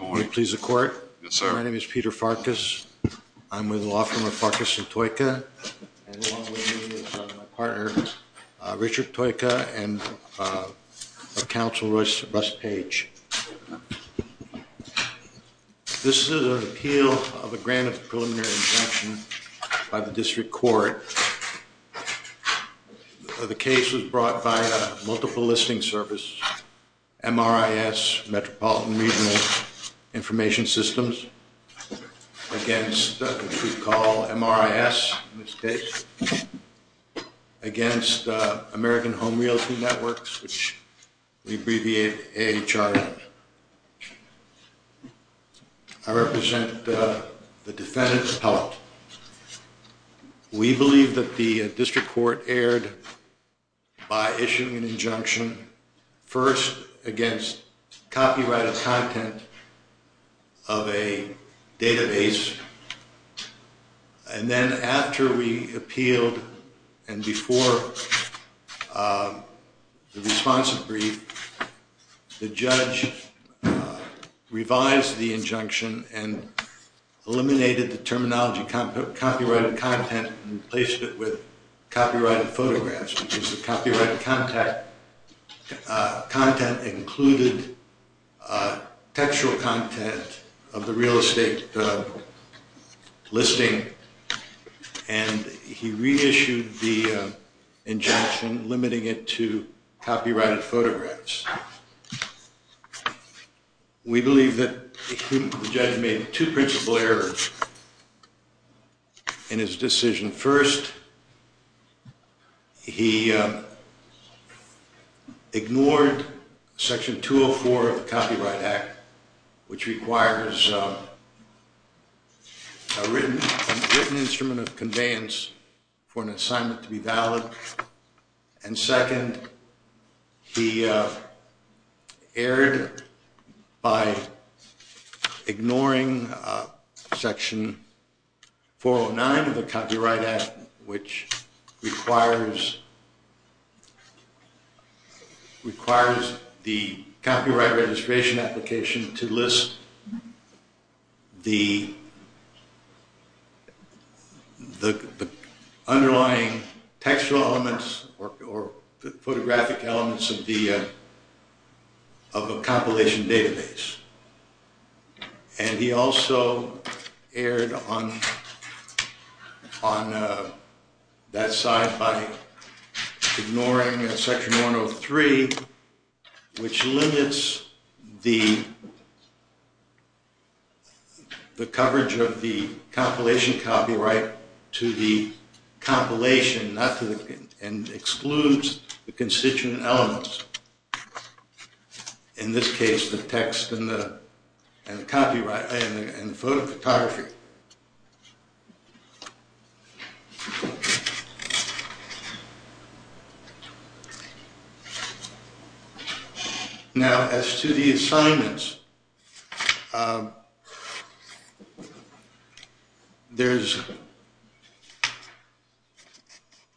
I want to please the court. My name is Peter Farkas. I'm with Lawfirm of Farkas & Toyka and along with me is my partner Richard Toyka and Councilor Russ Page. This is an appeal of a grant of preliminary injunction by the District Court. The case was brought by Multiple Listing Service, MRIS, Metropolitan Regional Information Systems, against what we call MRIS in this case, against American Home Realty Networks, which we abbreviate AHRN. I represent the defendant's appellate. We believe that the District Court erred by issuing an injunction, first against copyrighted content of a database. And then after we appealed and before the responsive brief, the judge revised the injunction and eliminated the terminology copyrighted content and replaced it with copyrighted photographs. Copyrighted content included textual content of the real estate listing and he reissued the injunction limiting it to copyrighted photographs. We believe that the judge made two principal errors in his decision. First, he ignored Section 204 of the Copyright Act, which requires a written instrument of conveyance for an assignment to be valid. And second, he erred by ignoring Section 409 of the Copyright Act, which requires the Copyright Registration Application to list the underlying textual elements or photographic elements of a compilation database. And he also erred on that side by ignoring Section 103, which limits the coverage of the compilation copyright to the compilation and excludes the constituent elements. In this case, the text and the photography. Now, as to the assignments, there's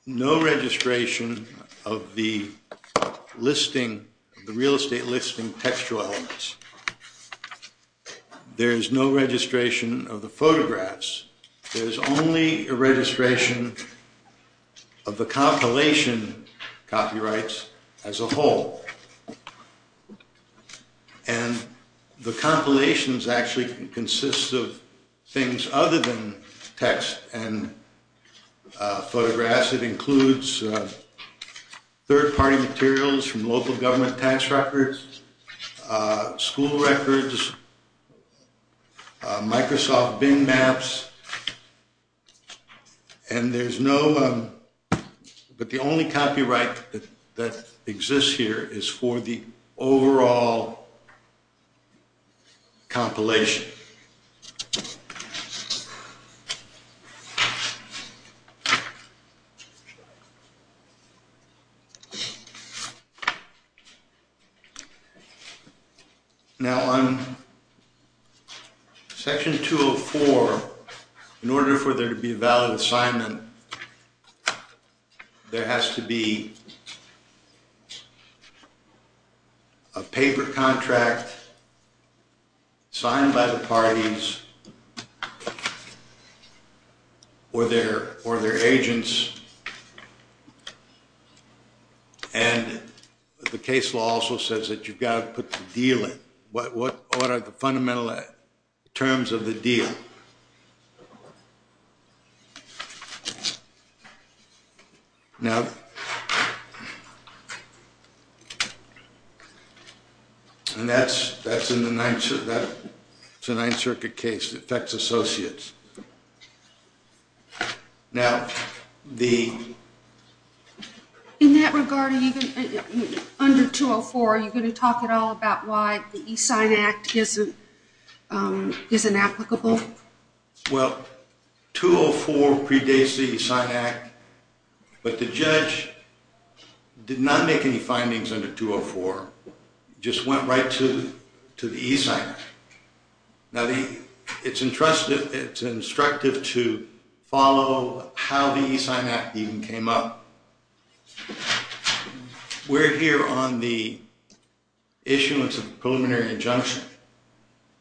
no registration of the listing, the real estate listing textual elements. There's no registration of the photographs. There's only a registration of the compilation copyrights as a whole. And the compilations actually consist of things other than text and photographs. It includes third-party materials from local government tax records, school records, Microsoft Bing maps. And there's no, but the only copyright that exists here is for the overall compilation. Now, on Section 204, in order for there to be a valid assignment, there has to be a paper contract signed by the parties or their agents. And the case law also says that you've got to put the deal in. What are the fundamental terms of the deal? Now, and that's in the Ninth Circuit case. It affects associates. In that regard, even under 204, are you going to talk at all about why the E-Sign Act isn't applicable? Well, 204 predates the E-Sign Act, but the judge did not make any findings under 204. It just went right to the E-Sign Act. Now, it's instructive to follow how the E-Sign Act even came up. We're here on the issuance of a preliminary injunction.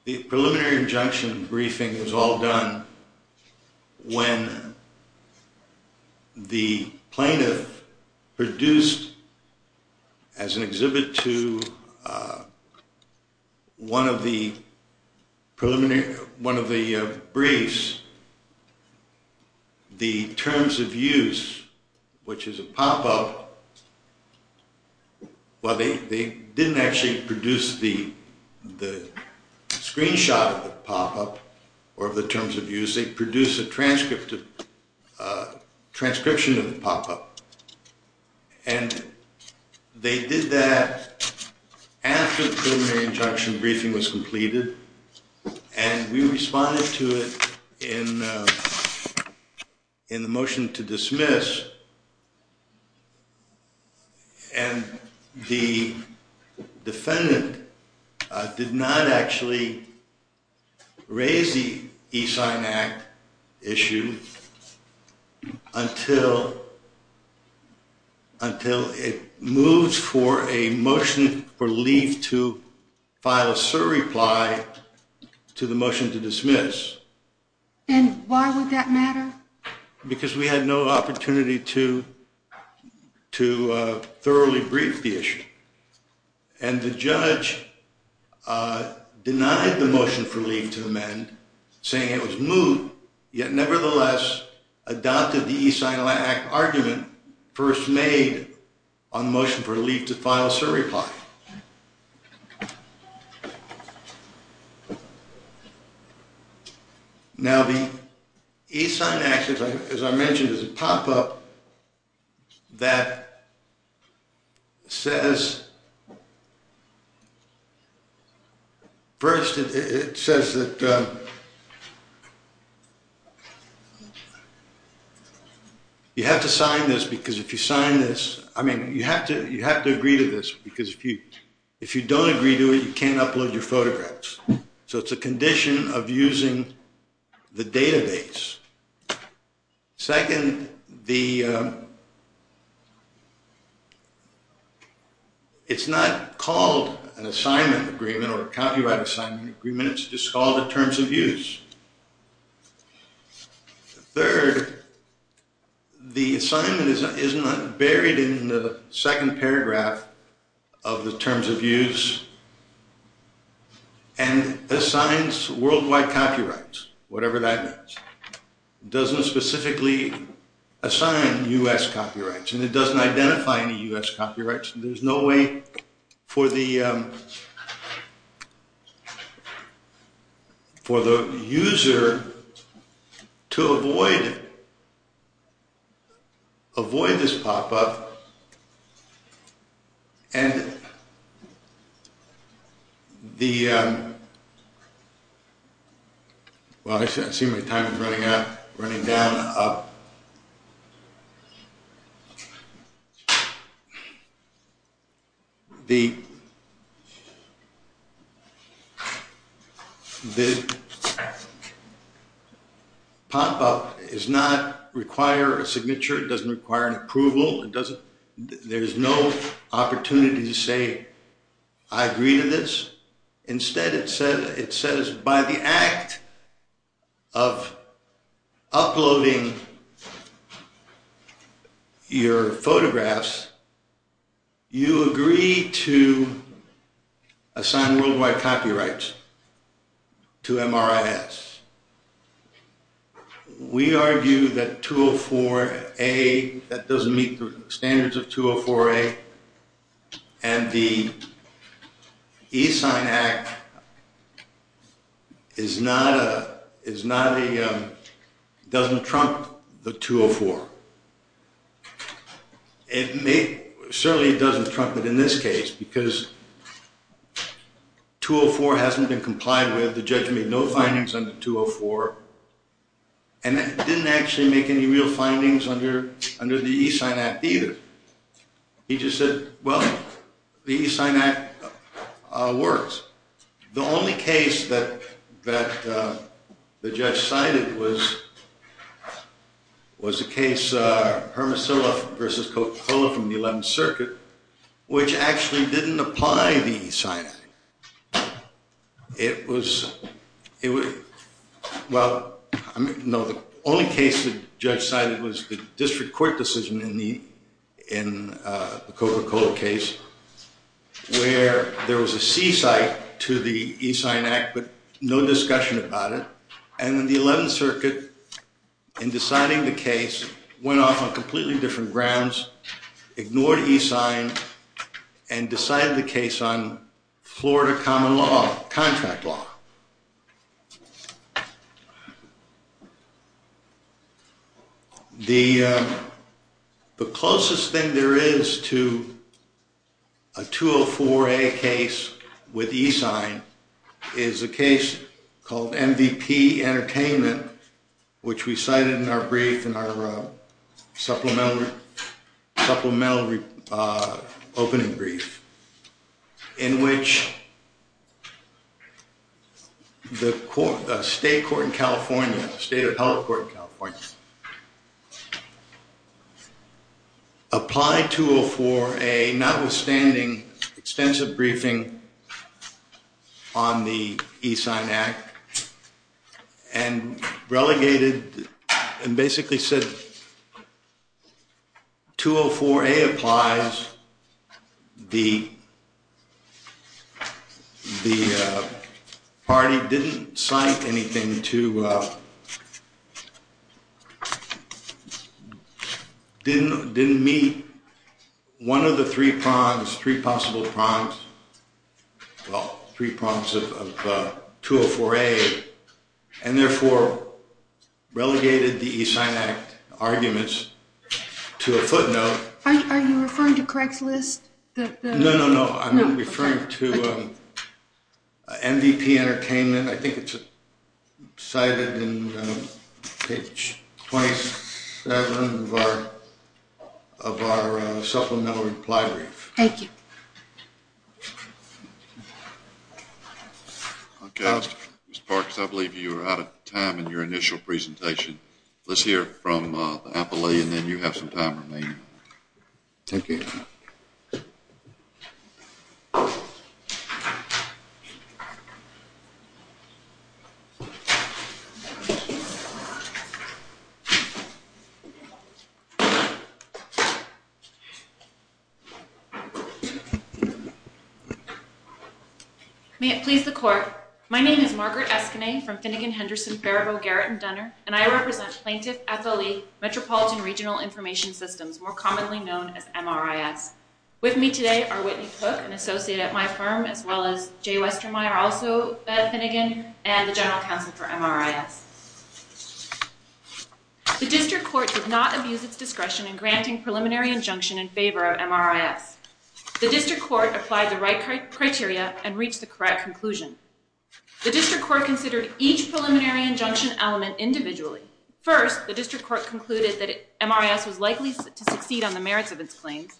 The preliminary injunction briefing was all done when the plaintiff produced, as an exhibit to one of the briefs, the terms of use, which is a pop-up. Well, they didn't actually produce the screenshot of the pop-up or of the terms of use. They produced a transcription of the pop-up. And they did that after the preliminary injunction briefing was completed. And we responded to it in the motion to dismiss. And the defendant did not actually raise the E-Sign Act issue until it moves for a motion for leave to file a surreply to the motion to dismiss. And why would that matter? Because we had no opportunity to thoroughly brief the issue. And the judge denied the motion for leave to amend, saying it was moved. Yet, nevertheless, adopted the E-Sign Act argument first made on the motion for leave to file a surreply. Now, the E-Sign Act, as I mentioned, is a pop-up that says, first, it says that you have to sign this, because if you sign this, I mean, you have to agree to this, because if you don't agree to it, you can't upload your photographs. So it's a condition of using the database. Second, it's not called an assignment agreement or a copyright assignment agreement. It's just called a terms of use. Third, the assignment is buried in the second paragraph of the terms of use and assigns worldwide copyrights, whatever that means. It doesn't specifically assign U.S. copyrights, and it doesn't identify any U.S. copyrights. There's no way for the user to avoid this pop-up. So, and the, well, I see my time is running out, running down and up. The pop-up does not require a signature. It doesn't require an approval. There's no opportunity to say, I agree to this. Instead, it says, by the act of uploading your photographs, you agree to assign worldwide copyrights to MRIS. We argue that 204A, that doesn't meet the standards of 204A, and the E-Sign Act is not a, is not a, doesn't trump the 204. It may, certainly it doesn't trump it in this case, because 204 hasn't been complied with. The judge made no findings under 204, and didn't actually make any real findings under the E-Sign Act either. He just said, well, the E-Sign Act works. The only case that the judge cited was a case, was Hermosillo versus Coca-Cola from the 11th Circuit, which actually didn't apply the E-Sign Act. It was, well, no, the only case the judge cited was the district court decision in the Coca-Cola case, where there was a C-site to the E-Sign Act, but no discussion about it. And then the 11th Circuit, in deciding the case, went off on completely different grounds, ignored E-Sign and decided the case on Florida common law, contract law. The closest thing there is to a 204A case with E-Sign is a case called MVP Entertainment, which we cited in our brief, in our supplemental opening brief, in which the state court in California, the state appellate court in California, applied 204A, notwithstanding extensive briefing on the E-Sign Act, and relegated and basically said 204A applies. Because the party didn't cite anything to, didn't meet one of the three prongs, three possible prongs, well, three prongs of 204A, and therefore relegated the E-Sign Act arguments to a footnote. Are you referring to Craigslist? No, no, no, I'm referring to MVP Entertainment. I think it's cited in page 27 of our supplemental reply brief. Thank you. Ms. Parks, I believe you are out of time in your initial presentation. Let's hear from the appellate, and then you have some time remaining. Thank you. May it please the court. My name is Margaret Escanay from Finnegan, Henderson, Faribault, Garrett & Dunner, and I represent Plaintiff FLE, Metropolitan Regional Information Systems, more commonly known as MRIS. With me today are Whitney Cook, an associate at my firm, as well as Jay Westermeyer, also at Finnegan, and the general counsel for MRIS. The district court did not abuse its discretion in granting preliminary injunction in favor of MRIS. The district court applied the right criteria and reached the correct conclusion. The district court considered each preliminary injunction element individually. First, the district court concluded that MRIS was likely to succeed on the merits of its claims.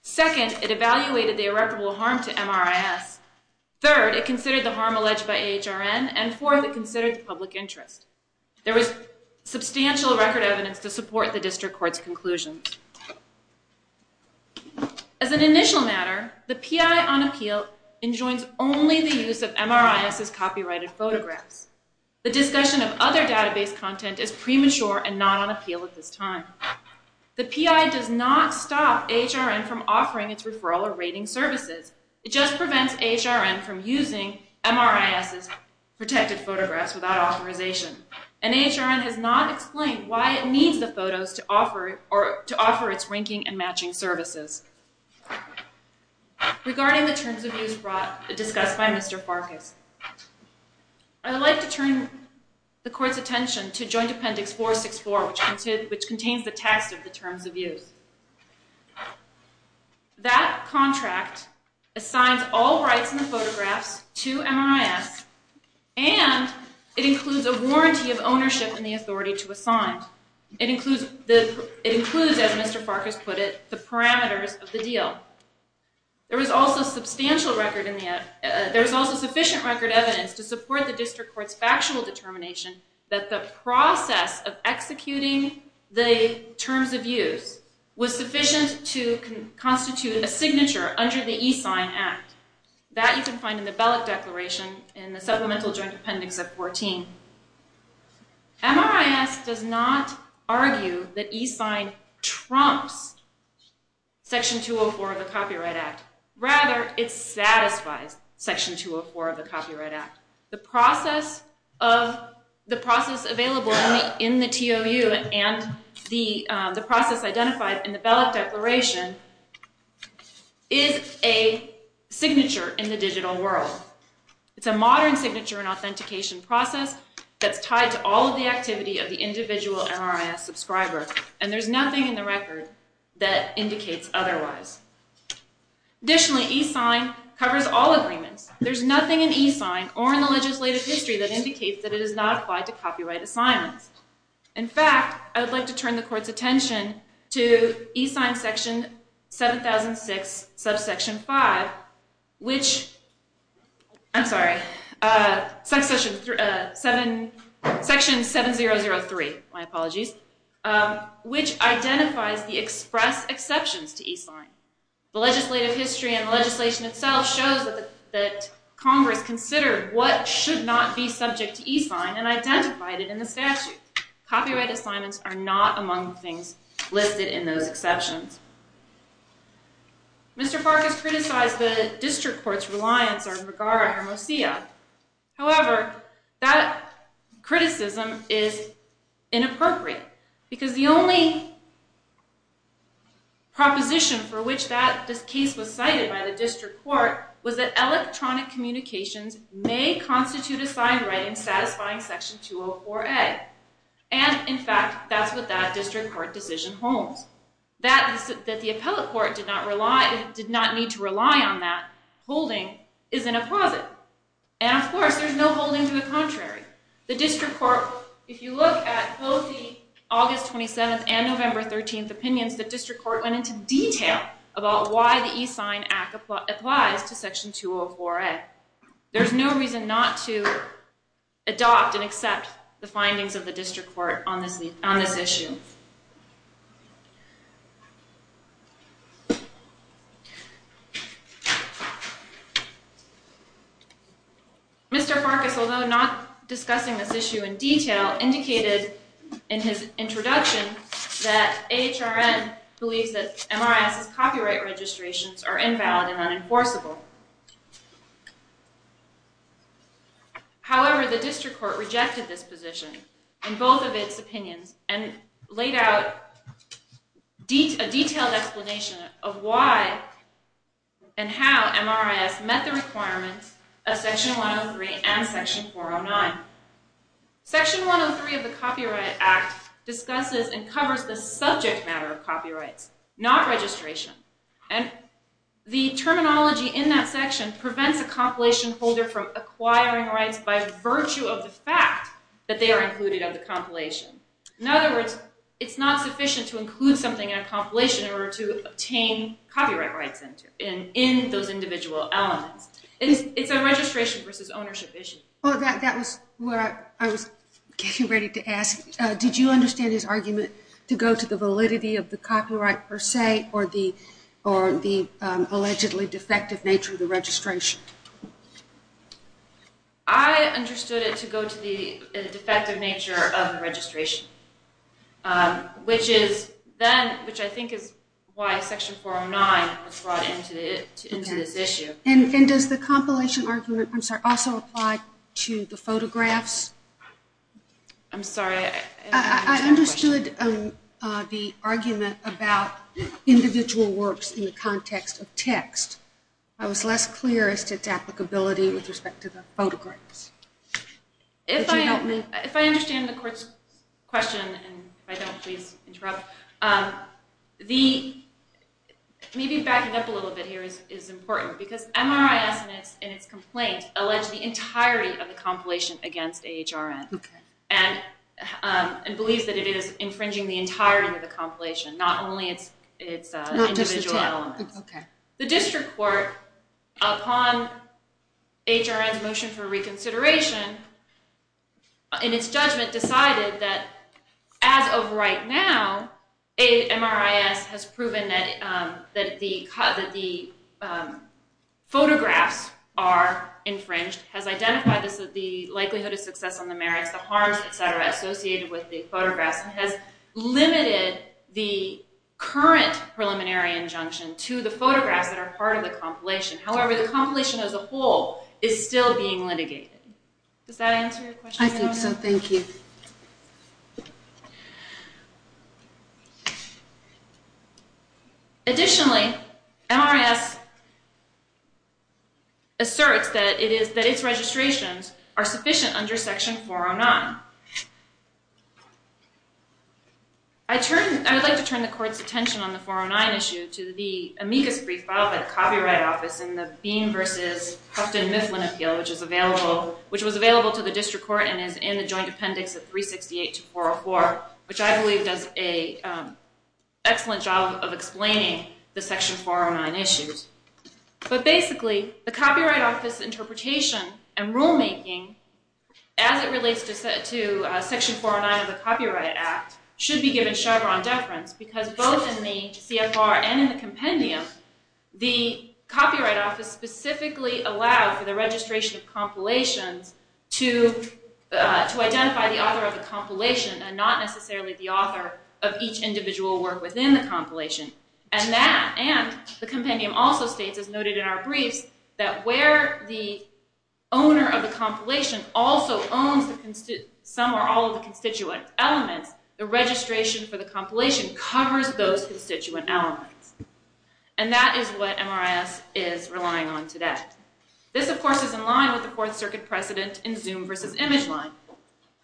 Second, it evaluated the irreparable harm to MRIS. Third, it considered the harm alleged by AHRN. And fourth, it considered the public interest. There was substantial record evidence to support the district court's conclusion. As an initial matter, the PI on appeal enjoins only the use of MRIS's copyrighted photographs. The discussion of other database content is premature and not on appeal at this time. The PI does not stop AHRN from offering its referral or rating services. It just prevents AHRN from using MRIS's protected photographs without authorization. And AHRN has not explained why it needs the photos to offer its ranking and matching services. Regarding the terms of use discussed by Mr. Farkas, I would like to turn the court's attention to Joint Appendix 464, which contains the text of the terms of use. That contract assigns all rights and photographs to MRIS, and it includes a warranty of ownership and the authority to assign. It includes, as Mr. Farkas put it, the parameters of the deal. There is also sufficient record evidence to support the district court's factual determination that the process of executing the terms of use was sufficient to constitute a signature under the E-Sign Act. That you can find in the Bellick Declaration in the Supplemental Joint Appendix of 14. MRIS does not argue that E-Sign trumps Section 204 of the Copyright Act. Rather, it satisfies Section 204 of the Copyright Act. The process available in the TOU and the process identified in the Bellick Declaration is a signature in the digital world. It's a modern signature and authentication process that's tied to all of the activity of the individual MRIS subscriber, and there's nothing in the record that indicates otherwise. Additionally, E-Sign covers all agreements. There's nothing in E-Sign or in the legislative history that indicates that it is not applied to copyright assignments. In fact, I would like to turn the court's attention to E-Sign Section 7003, which identifies the express exceptions to E-Sign. The legislative history and legislation itself shows that Congress considered what should not be subject to E-Sign and identified it in the statute. Copyright assignments are not among the things listed in those exceptions. Mr. Park has criticized the district court's reliance on McGarrett or Mosiah. However, that criticism is inappropriate because the only proposition for which that case was cited by the district court was that electronic communications may constitute a sign right in satisfying Section 204A. In fact, that's what that district court decision holds. That the appellate court did not need to rely on that holding is an apposite. And of course, there's no holding to the contrary. The district court, if you look at both the August 27th and November 13th opinions, the district court went into detail about why the E-Sign Act applies to Section 204A. There's no reason not to adopt and accept the findings of the district court on this issue. Mr. Park, although not discussing this issue in detail, indicated in his introduction that AHRN believes that MRAS's copyright registrations are invalid and unenforceable. However, the district court rejected this position in both of its opinions and laid out a detailed explanation of why and how MRAS met the requirements of Section 103 and Section 409. Section 103 of the Copyright Act discusses and covers the subject matter of copyrights, not registration. And the terminology in that section prevents a compilation holder from acquiring rights by virtue of the fact that they are included in the compilation. In other words, it's not sufficient to include something in a compilation in order to obtain copyright rights in those individual elements. It's a registration versus ownership issue. That was what I was getting ready to ask. Did you understand his argument to go to the validity of the copyright per se or the allegedly defective nature of the registration? I understood it to go to the defective nature of the registration, which I think is why Section 409 was brought into this issue. And does the compilation argument also apply to the photographs? I'm sorry. I understood the argument about individual works in the context of text. I was less clear as to its applicability with respect to the photographs. If I understand the court's question, and if I don't, please interrupt, maybe backing up a little bit here is important. Because MRAS in its complaint alleged the entirety of the compilation against AHRN and believes that it is infringing the entirety of the compilation, not only its individual elements. The district court, upon AHRN's motion for reconsideration, in its judgment, decided that as of right now, MRAS has proven that the photographs are infringed, has identified the likelihood of success on the merits, the harms, et cetera, associated with the photographs, and has limited the current preliminary injunction to the photographs that are part of the compilation. However, the compilation as a whole is still being litigated. Does that answer your question? I think so. Thank you. Additionally, MRAS asserts that its registrations are sufficient under Section 409. I would like to turn the court's attention on the 409 issue to the amicus brief filed by the Copyright Office in the Bean v. Hufton-Mifflin Appeal, which was available to the district court and is in the Joint Appendix of 368 to 404, which I believe does an excellent job of explaining the Section 409 issues. But basically, the Copyright Office interpretation and rulemaking, as it relates to Section 409 of the Copyright Act, should be given Chevron deference because both in the CFR and in the compendium, the Copyright Office specifically allowed for the registration of compilations to identify the author of the compilation and not necessarily the author of each individual work within the compilation. And that, and the compendium also states, as noted in our briefs, that where the owner of the compilation also owns some or all of the constituent elements, the registration for the compilation covers those constituent elements. And that is what MRAS is relying on today. This, of course, is in line with the Fourth Circuit precedent in Zoom v. Image Line.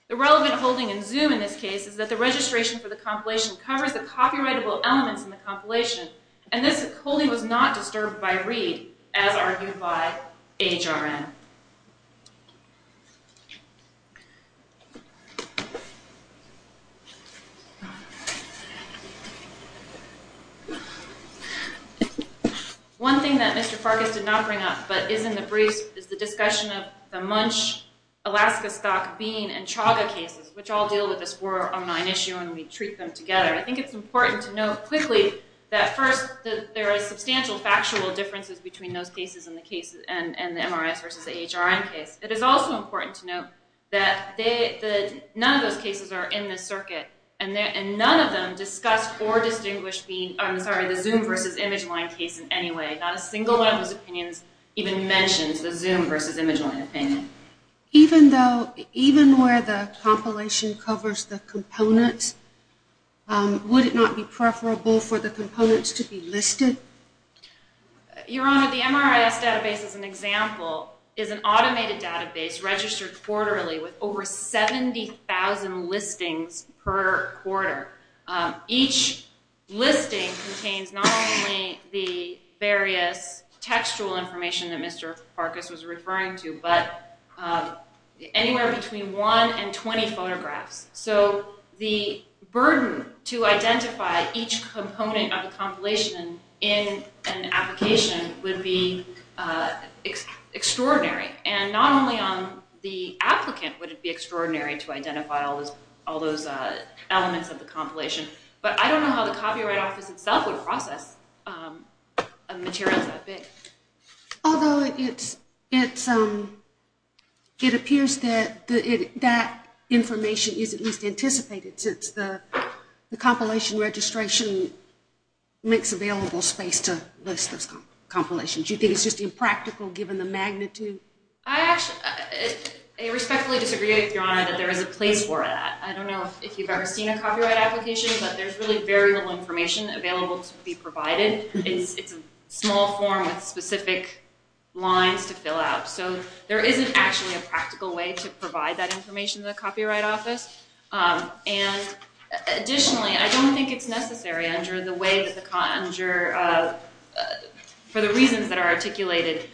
The relevant holding in Zoom in this case is that the registration for the compilation covers the copyrightable elements in the compilation. And this holding was not disturbed by Reed, as argued by HRN. One thing that Mr. Farkas did not bring up, but is in the briefs, is the discussion of the Munch, Alaska Stock, Bean, and Chaga cases, which all deal with this war online issue and we treat them together. I think it's important to note quickly that first there are substantial factual differences between those cases and the MRAS v. HRN case. It is also important to note that none of those cases are in this circuit, and none of them discuss or distinguish the Zoom v. Image Line case in any way. Not a single one of those opinions even mentions the Zoom v. Image Line opinion. Even where the compilation covers the components, would it not be preferable for the components to be listed? Your Honor, the MRAS database, as an example, is an automated database registered quarterly with over 70,000 listings per quarter. Each listing contains not only the various textual information that Mr. Farkas was referring to, but anywhere between one and 20 photographs. So the burden to identify each component of a compilation in an application would be extraordinary. Not only on the applicant would it be extraordinary to identify all those elements of the compilation, but I don't know how the Copyright Office itself would process materials that big. Although it appears that that information is at least anticipated since the compilation registration makes available space to list those compilations. Do you think it's just impractical given the magnitude? I respectfully disagree with Your Honor that there is a place for that. I don't know if you've ever seen a copyright application, but there's really very little information available to be provided. It's a small form with specific lines to fill out. So there isn't actually a practical way to provide that information to the Copyright Office. Additionally, I don't think it's necessary for the reasons that are articulated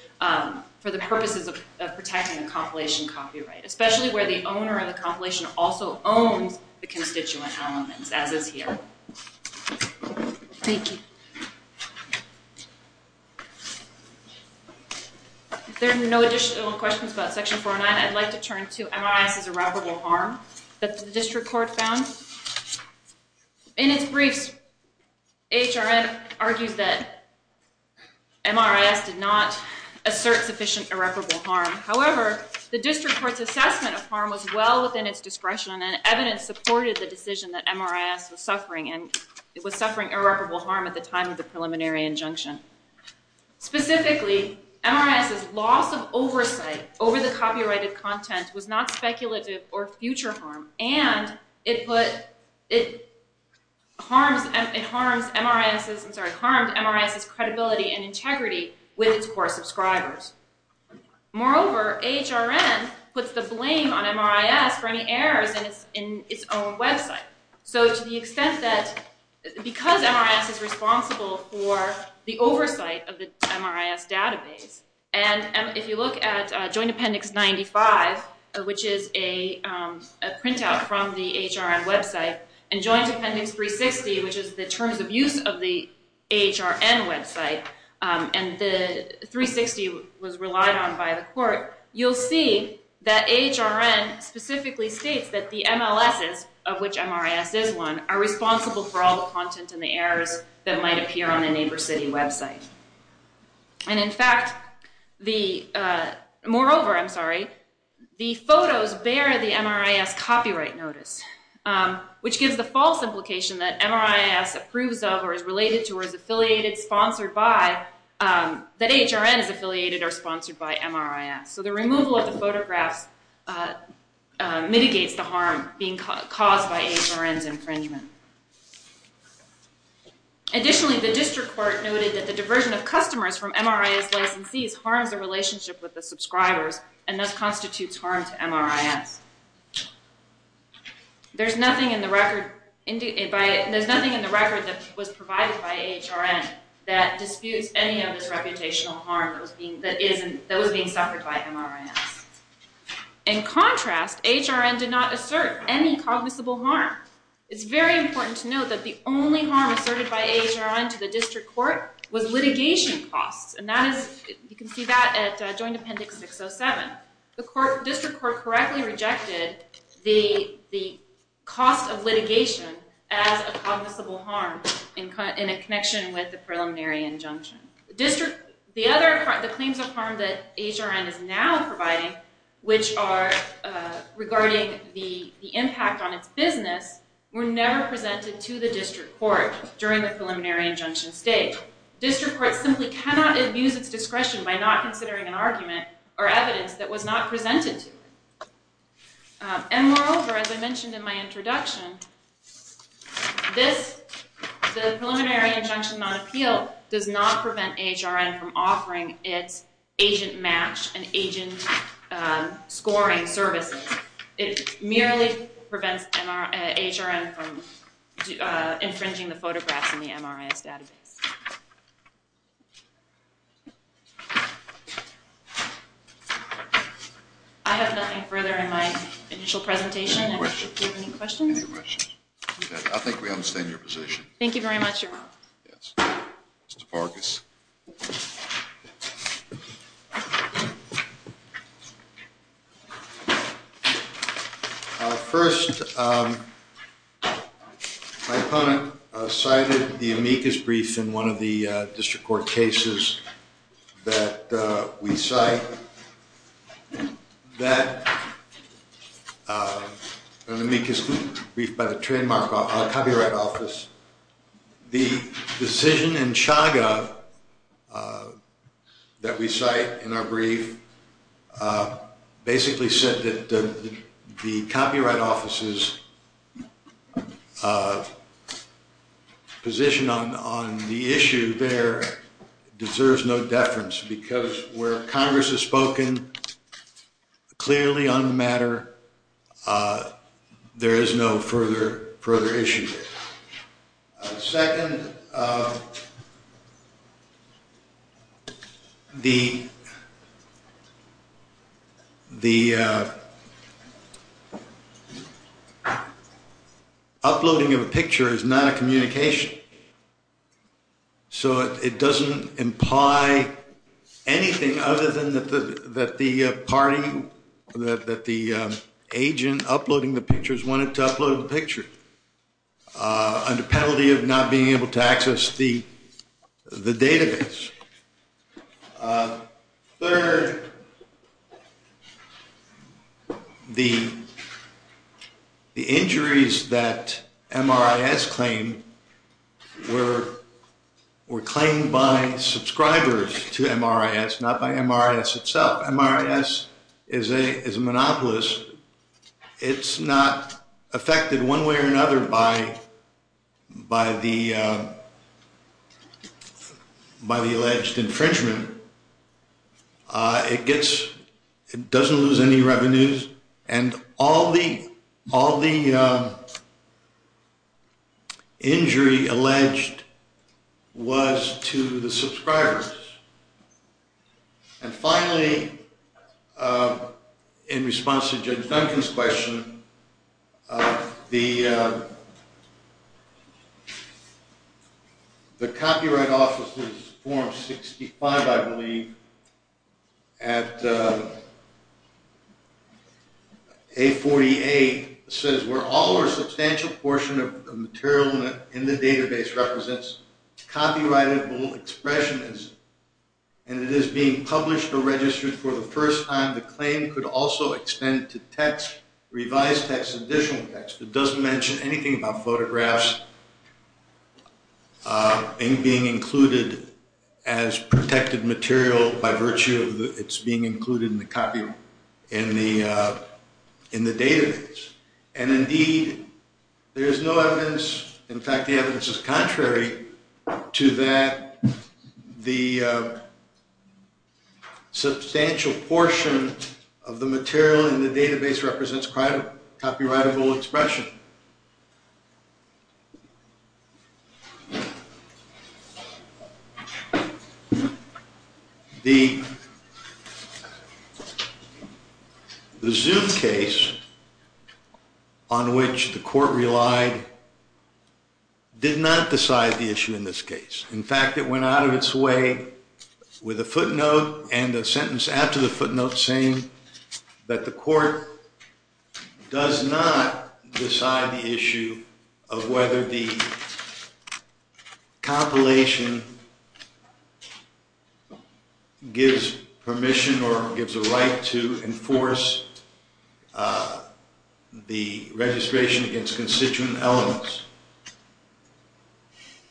for the purposes of protecting the compilation copyright, especially where the owner of the compilation also owns the constituent elements, as is here. Thank you. If there are no additional questions about Section 409, I'd like to turn to MRIS's irreparable harm that the District Court found. In its briefs, HRN argues that MRIS did not assert sufficient irreparable harm. However, the District Court's assessment of harm was well within its discretion and evidence supported the decision that MRIS was suffering irreparable harm at the time of the preliminary injunction. Specifically, MRIS's loss of oversight over the copyrighted content was not speculative or future harm, and it harmed MRIS's credibility and integrity with its core subscribers. Moreover, HRN puts the blame on MRIS for any errors in its own website. So to the extent that, because MRIS is responsible for the oversight of the MRIS database, and if you look at Joint Appendix 95, which is a printout from the HRN website, and Joint Appendix 360, which is the terms of use of the HRN website, and the 360 was relied on by the Court, you'll see that HRN specifically states that the MLSs, of which MRIS is one, are responsible for all the content and the errors that might appear on a neighbor city website. Moreover, the photos bear the MRIS copyright notice, which gives the false implication that MRIS approves of or is related to or is affiliated, sponsored by, that HRN is affiliated or sponsored by MRIS. So the removal of the photographs mitigates the harm being caused by HRN's infringement. Additionally, the District Court noted that the diversion of customers from MRIS licensees harms the relationship with the subscribers and thus constitutes harm to MRIS. There's nothing in the record that was provided by HRN that disputes any of this reputational harm that was being suffered by MRIS. In contrast, HRN did not assert any cognizable harm. It's very important to note that the only harm asserted by HRN to the District Court was litigation costs, and you can see that at Joint Appendix 607. The District Court correctly rejected the cost of litigation as a cognizable harm in a connection with the preliminary injunction. The claims of harm that HRN is now providing, which are regarding the impact on its business, were never presented to the District Court during the preliminary injunction stage. So the District Court simply cannot abuse its discretion by not considering an argument or evidence that was not presented to it. And moreover, as I mentioned in my introduction, the preliminary injunction on appeal does not prevent HRN from offering its agent match and agent scoring services. It merely prevents HRN from infringing the photographs in the MRIS database. I have nothing further in my initial presentation. Do you have any questions? Any questions? Okay, I think we understand your position. Thank you very much, Your Honor. Yes. Mr. Farkas. First, my opponent cited the amicus brief in one of the District Court cases that we cite. An amicus brief by the trademark copyright office. The decision in Chaga that we cite in our brief basically said that the copyright office's position on the issue there deserves no deference because where Congress has spoken clearly on the matter, there is no further issue there. Second, the uploading of a picture is not a communication. So it doesn't imply anything other than that the party, that the agent uploading the pictures wanted to upload the picture under penalty of not being able to access the database. Third, the injuries that MRIS claimed were claimed by subscribers to MRIS, not by MRIS itself. MRIS is a monopolist. It's not affected one way or another by the alleged infringement. It doesn't lose any revenues. And all the injury alleged was to the subscribers. And finally, in response to Judge Duncan's question, the Copyright Office's Form 65, I believe, at A48, says where all or a substantial portion of the material in the database represents copyrightable expressionism, and it is being published or registered for the first time. The claim could also extend to text, revised text, additional text. It doesn't mention anything about photographs being included as protected material by virtue of its being included in the database. And indeed, there is no evidence, in fact the evidence is contrary, to that the substantial portion of the material in the database represents copyrightable expression. The Zoom case on which the court relied did not decide the issue in this case. In fact, it went out of its way with a footnote and a sentence after the footnote saying that the court does not decide the issue of whether the compilation gives permission or gives a right to enforce the registration against constituent elements.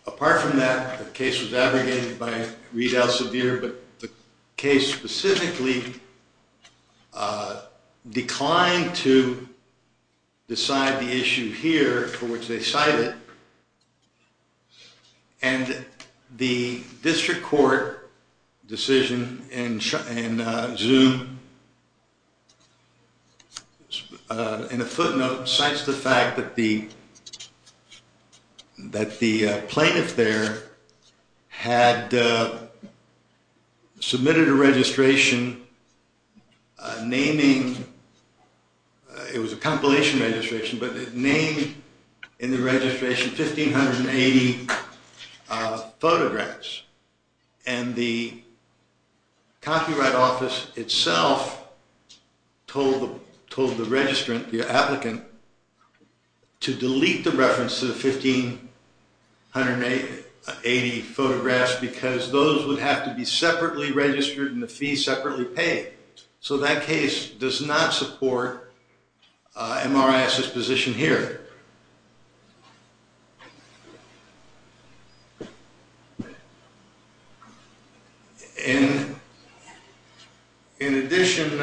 Apart from that, the case was abrogated by Reid Alsevier, but the case specifically declined to decide the issue here for which they cited. And the district court decision in Zoom, in a footnote, cites the fact that the plaintiff there had submitted a registration naming, it was a compilation registration, but it named in the registration 1580 photographs. And the Copyright Office itself told the applicant to delete the reference to the 1580 photographs because those would have to be separately registered and the fees separately paid. So that case does not support MRIS's position here. In addition,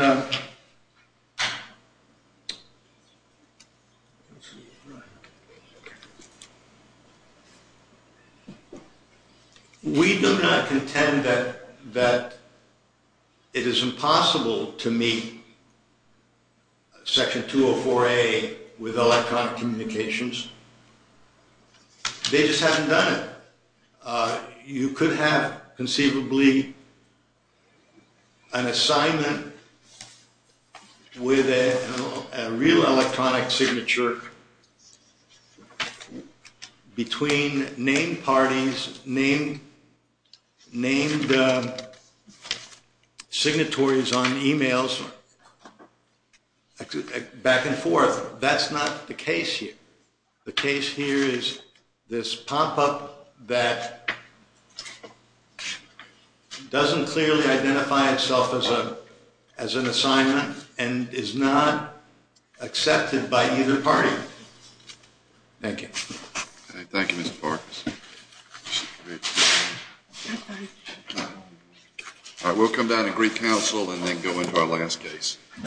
we do not contend that it is impossible to meet Section 204A with electronic communications. They just haven't done it. You could have conceivably an assignment with a real electronic signature between named parties, named signatories on emails, back and forth. That's not the case here. The case here is this pop-up that doesn't clearly identify itself as an assignment and is not accepted by either party. Thank you. Thank you, Mr. Farkas. We'll come down to Greek Council and then go into our last case.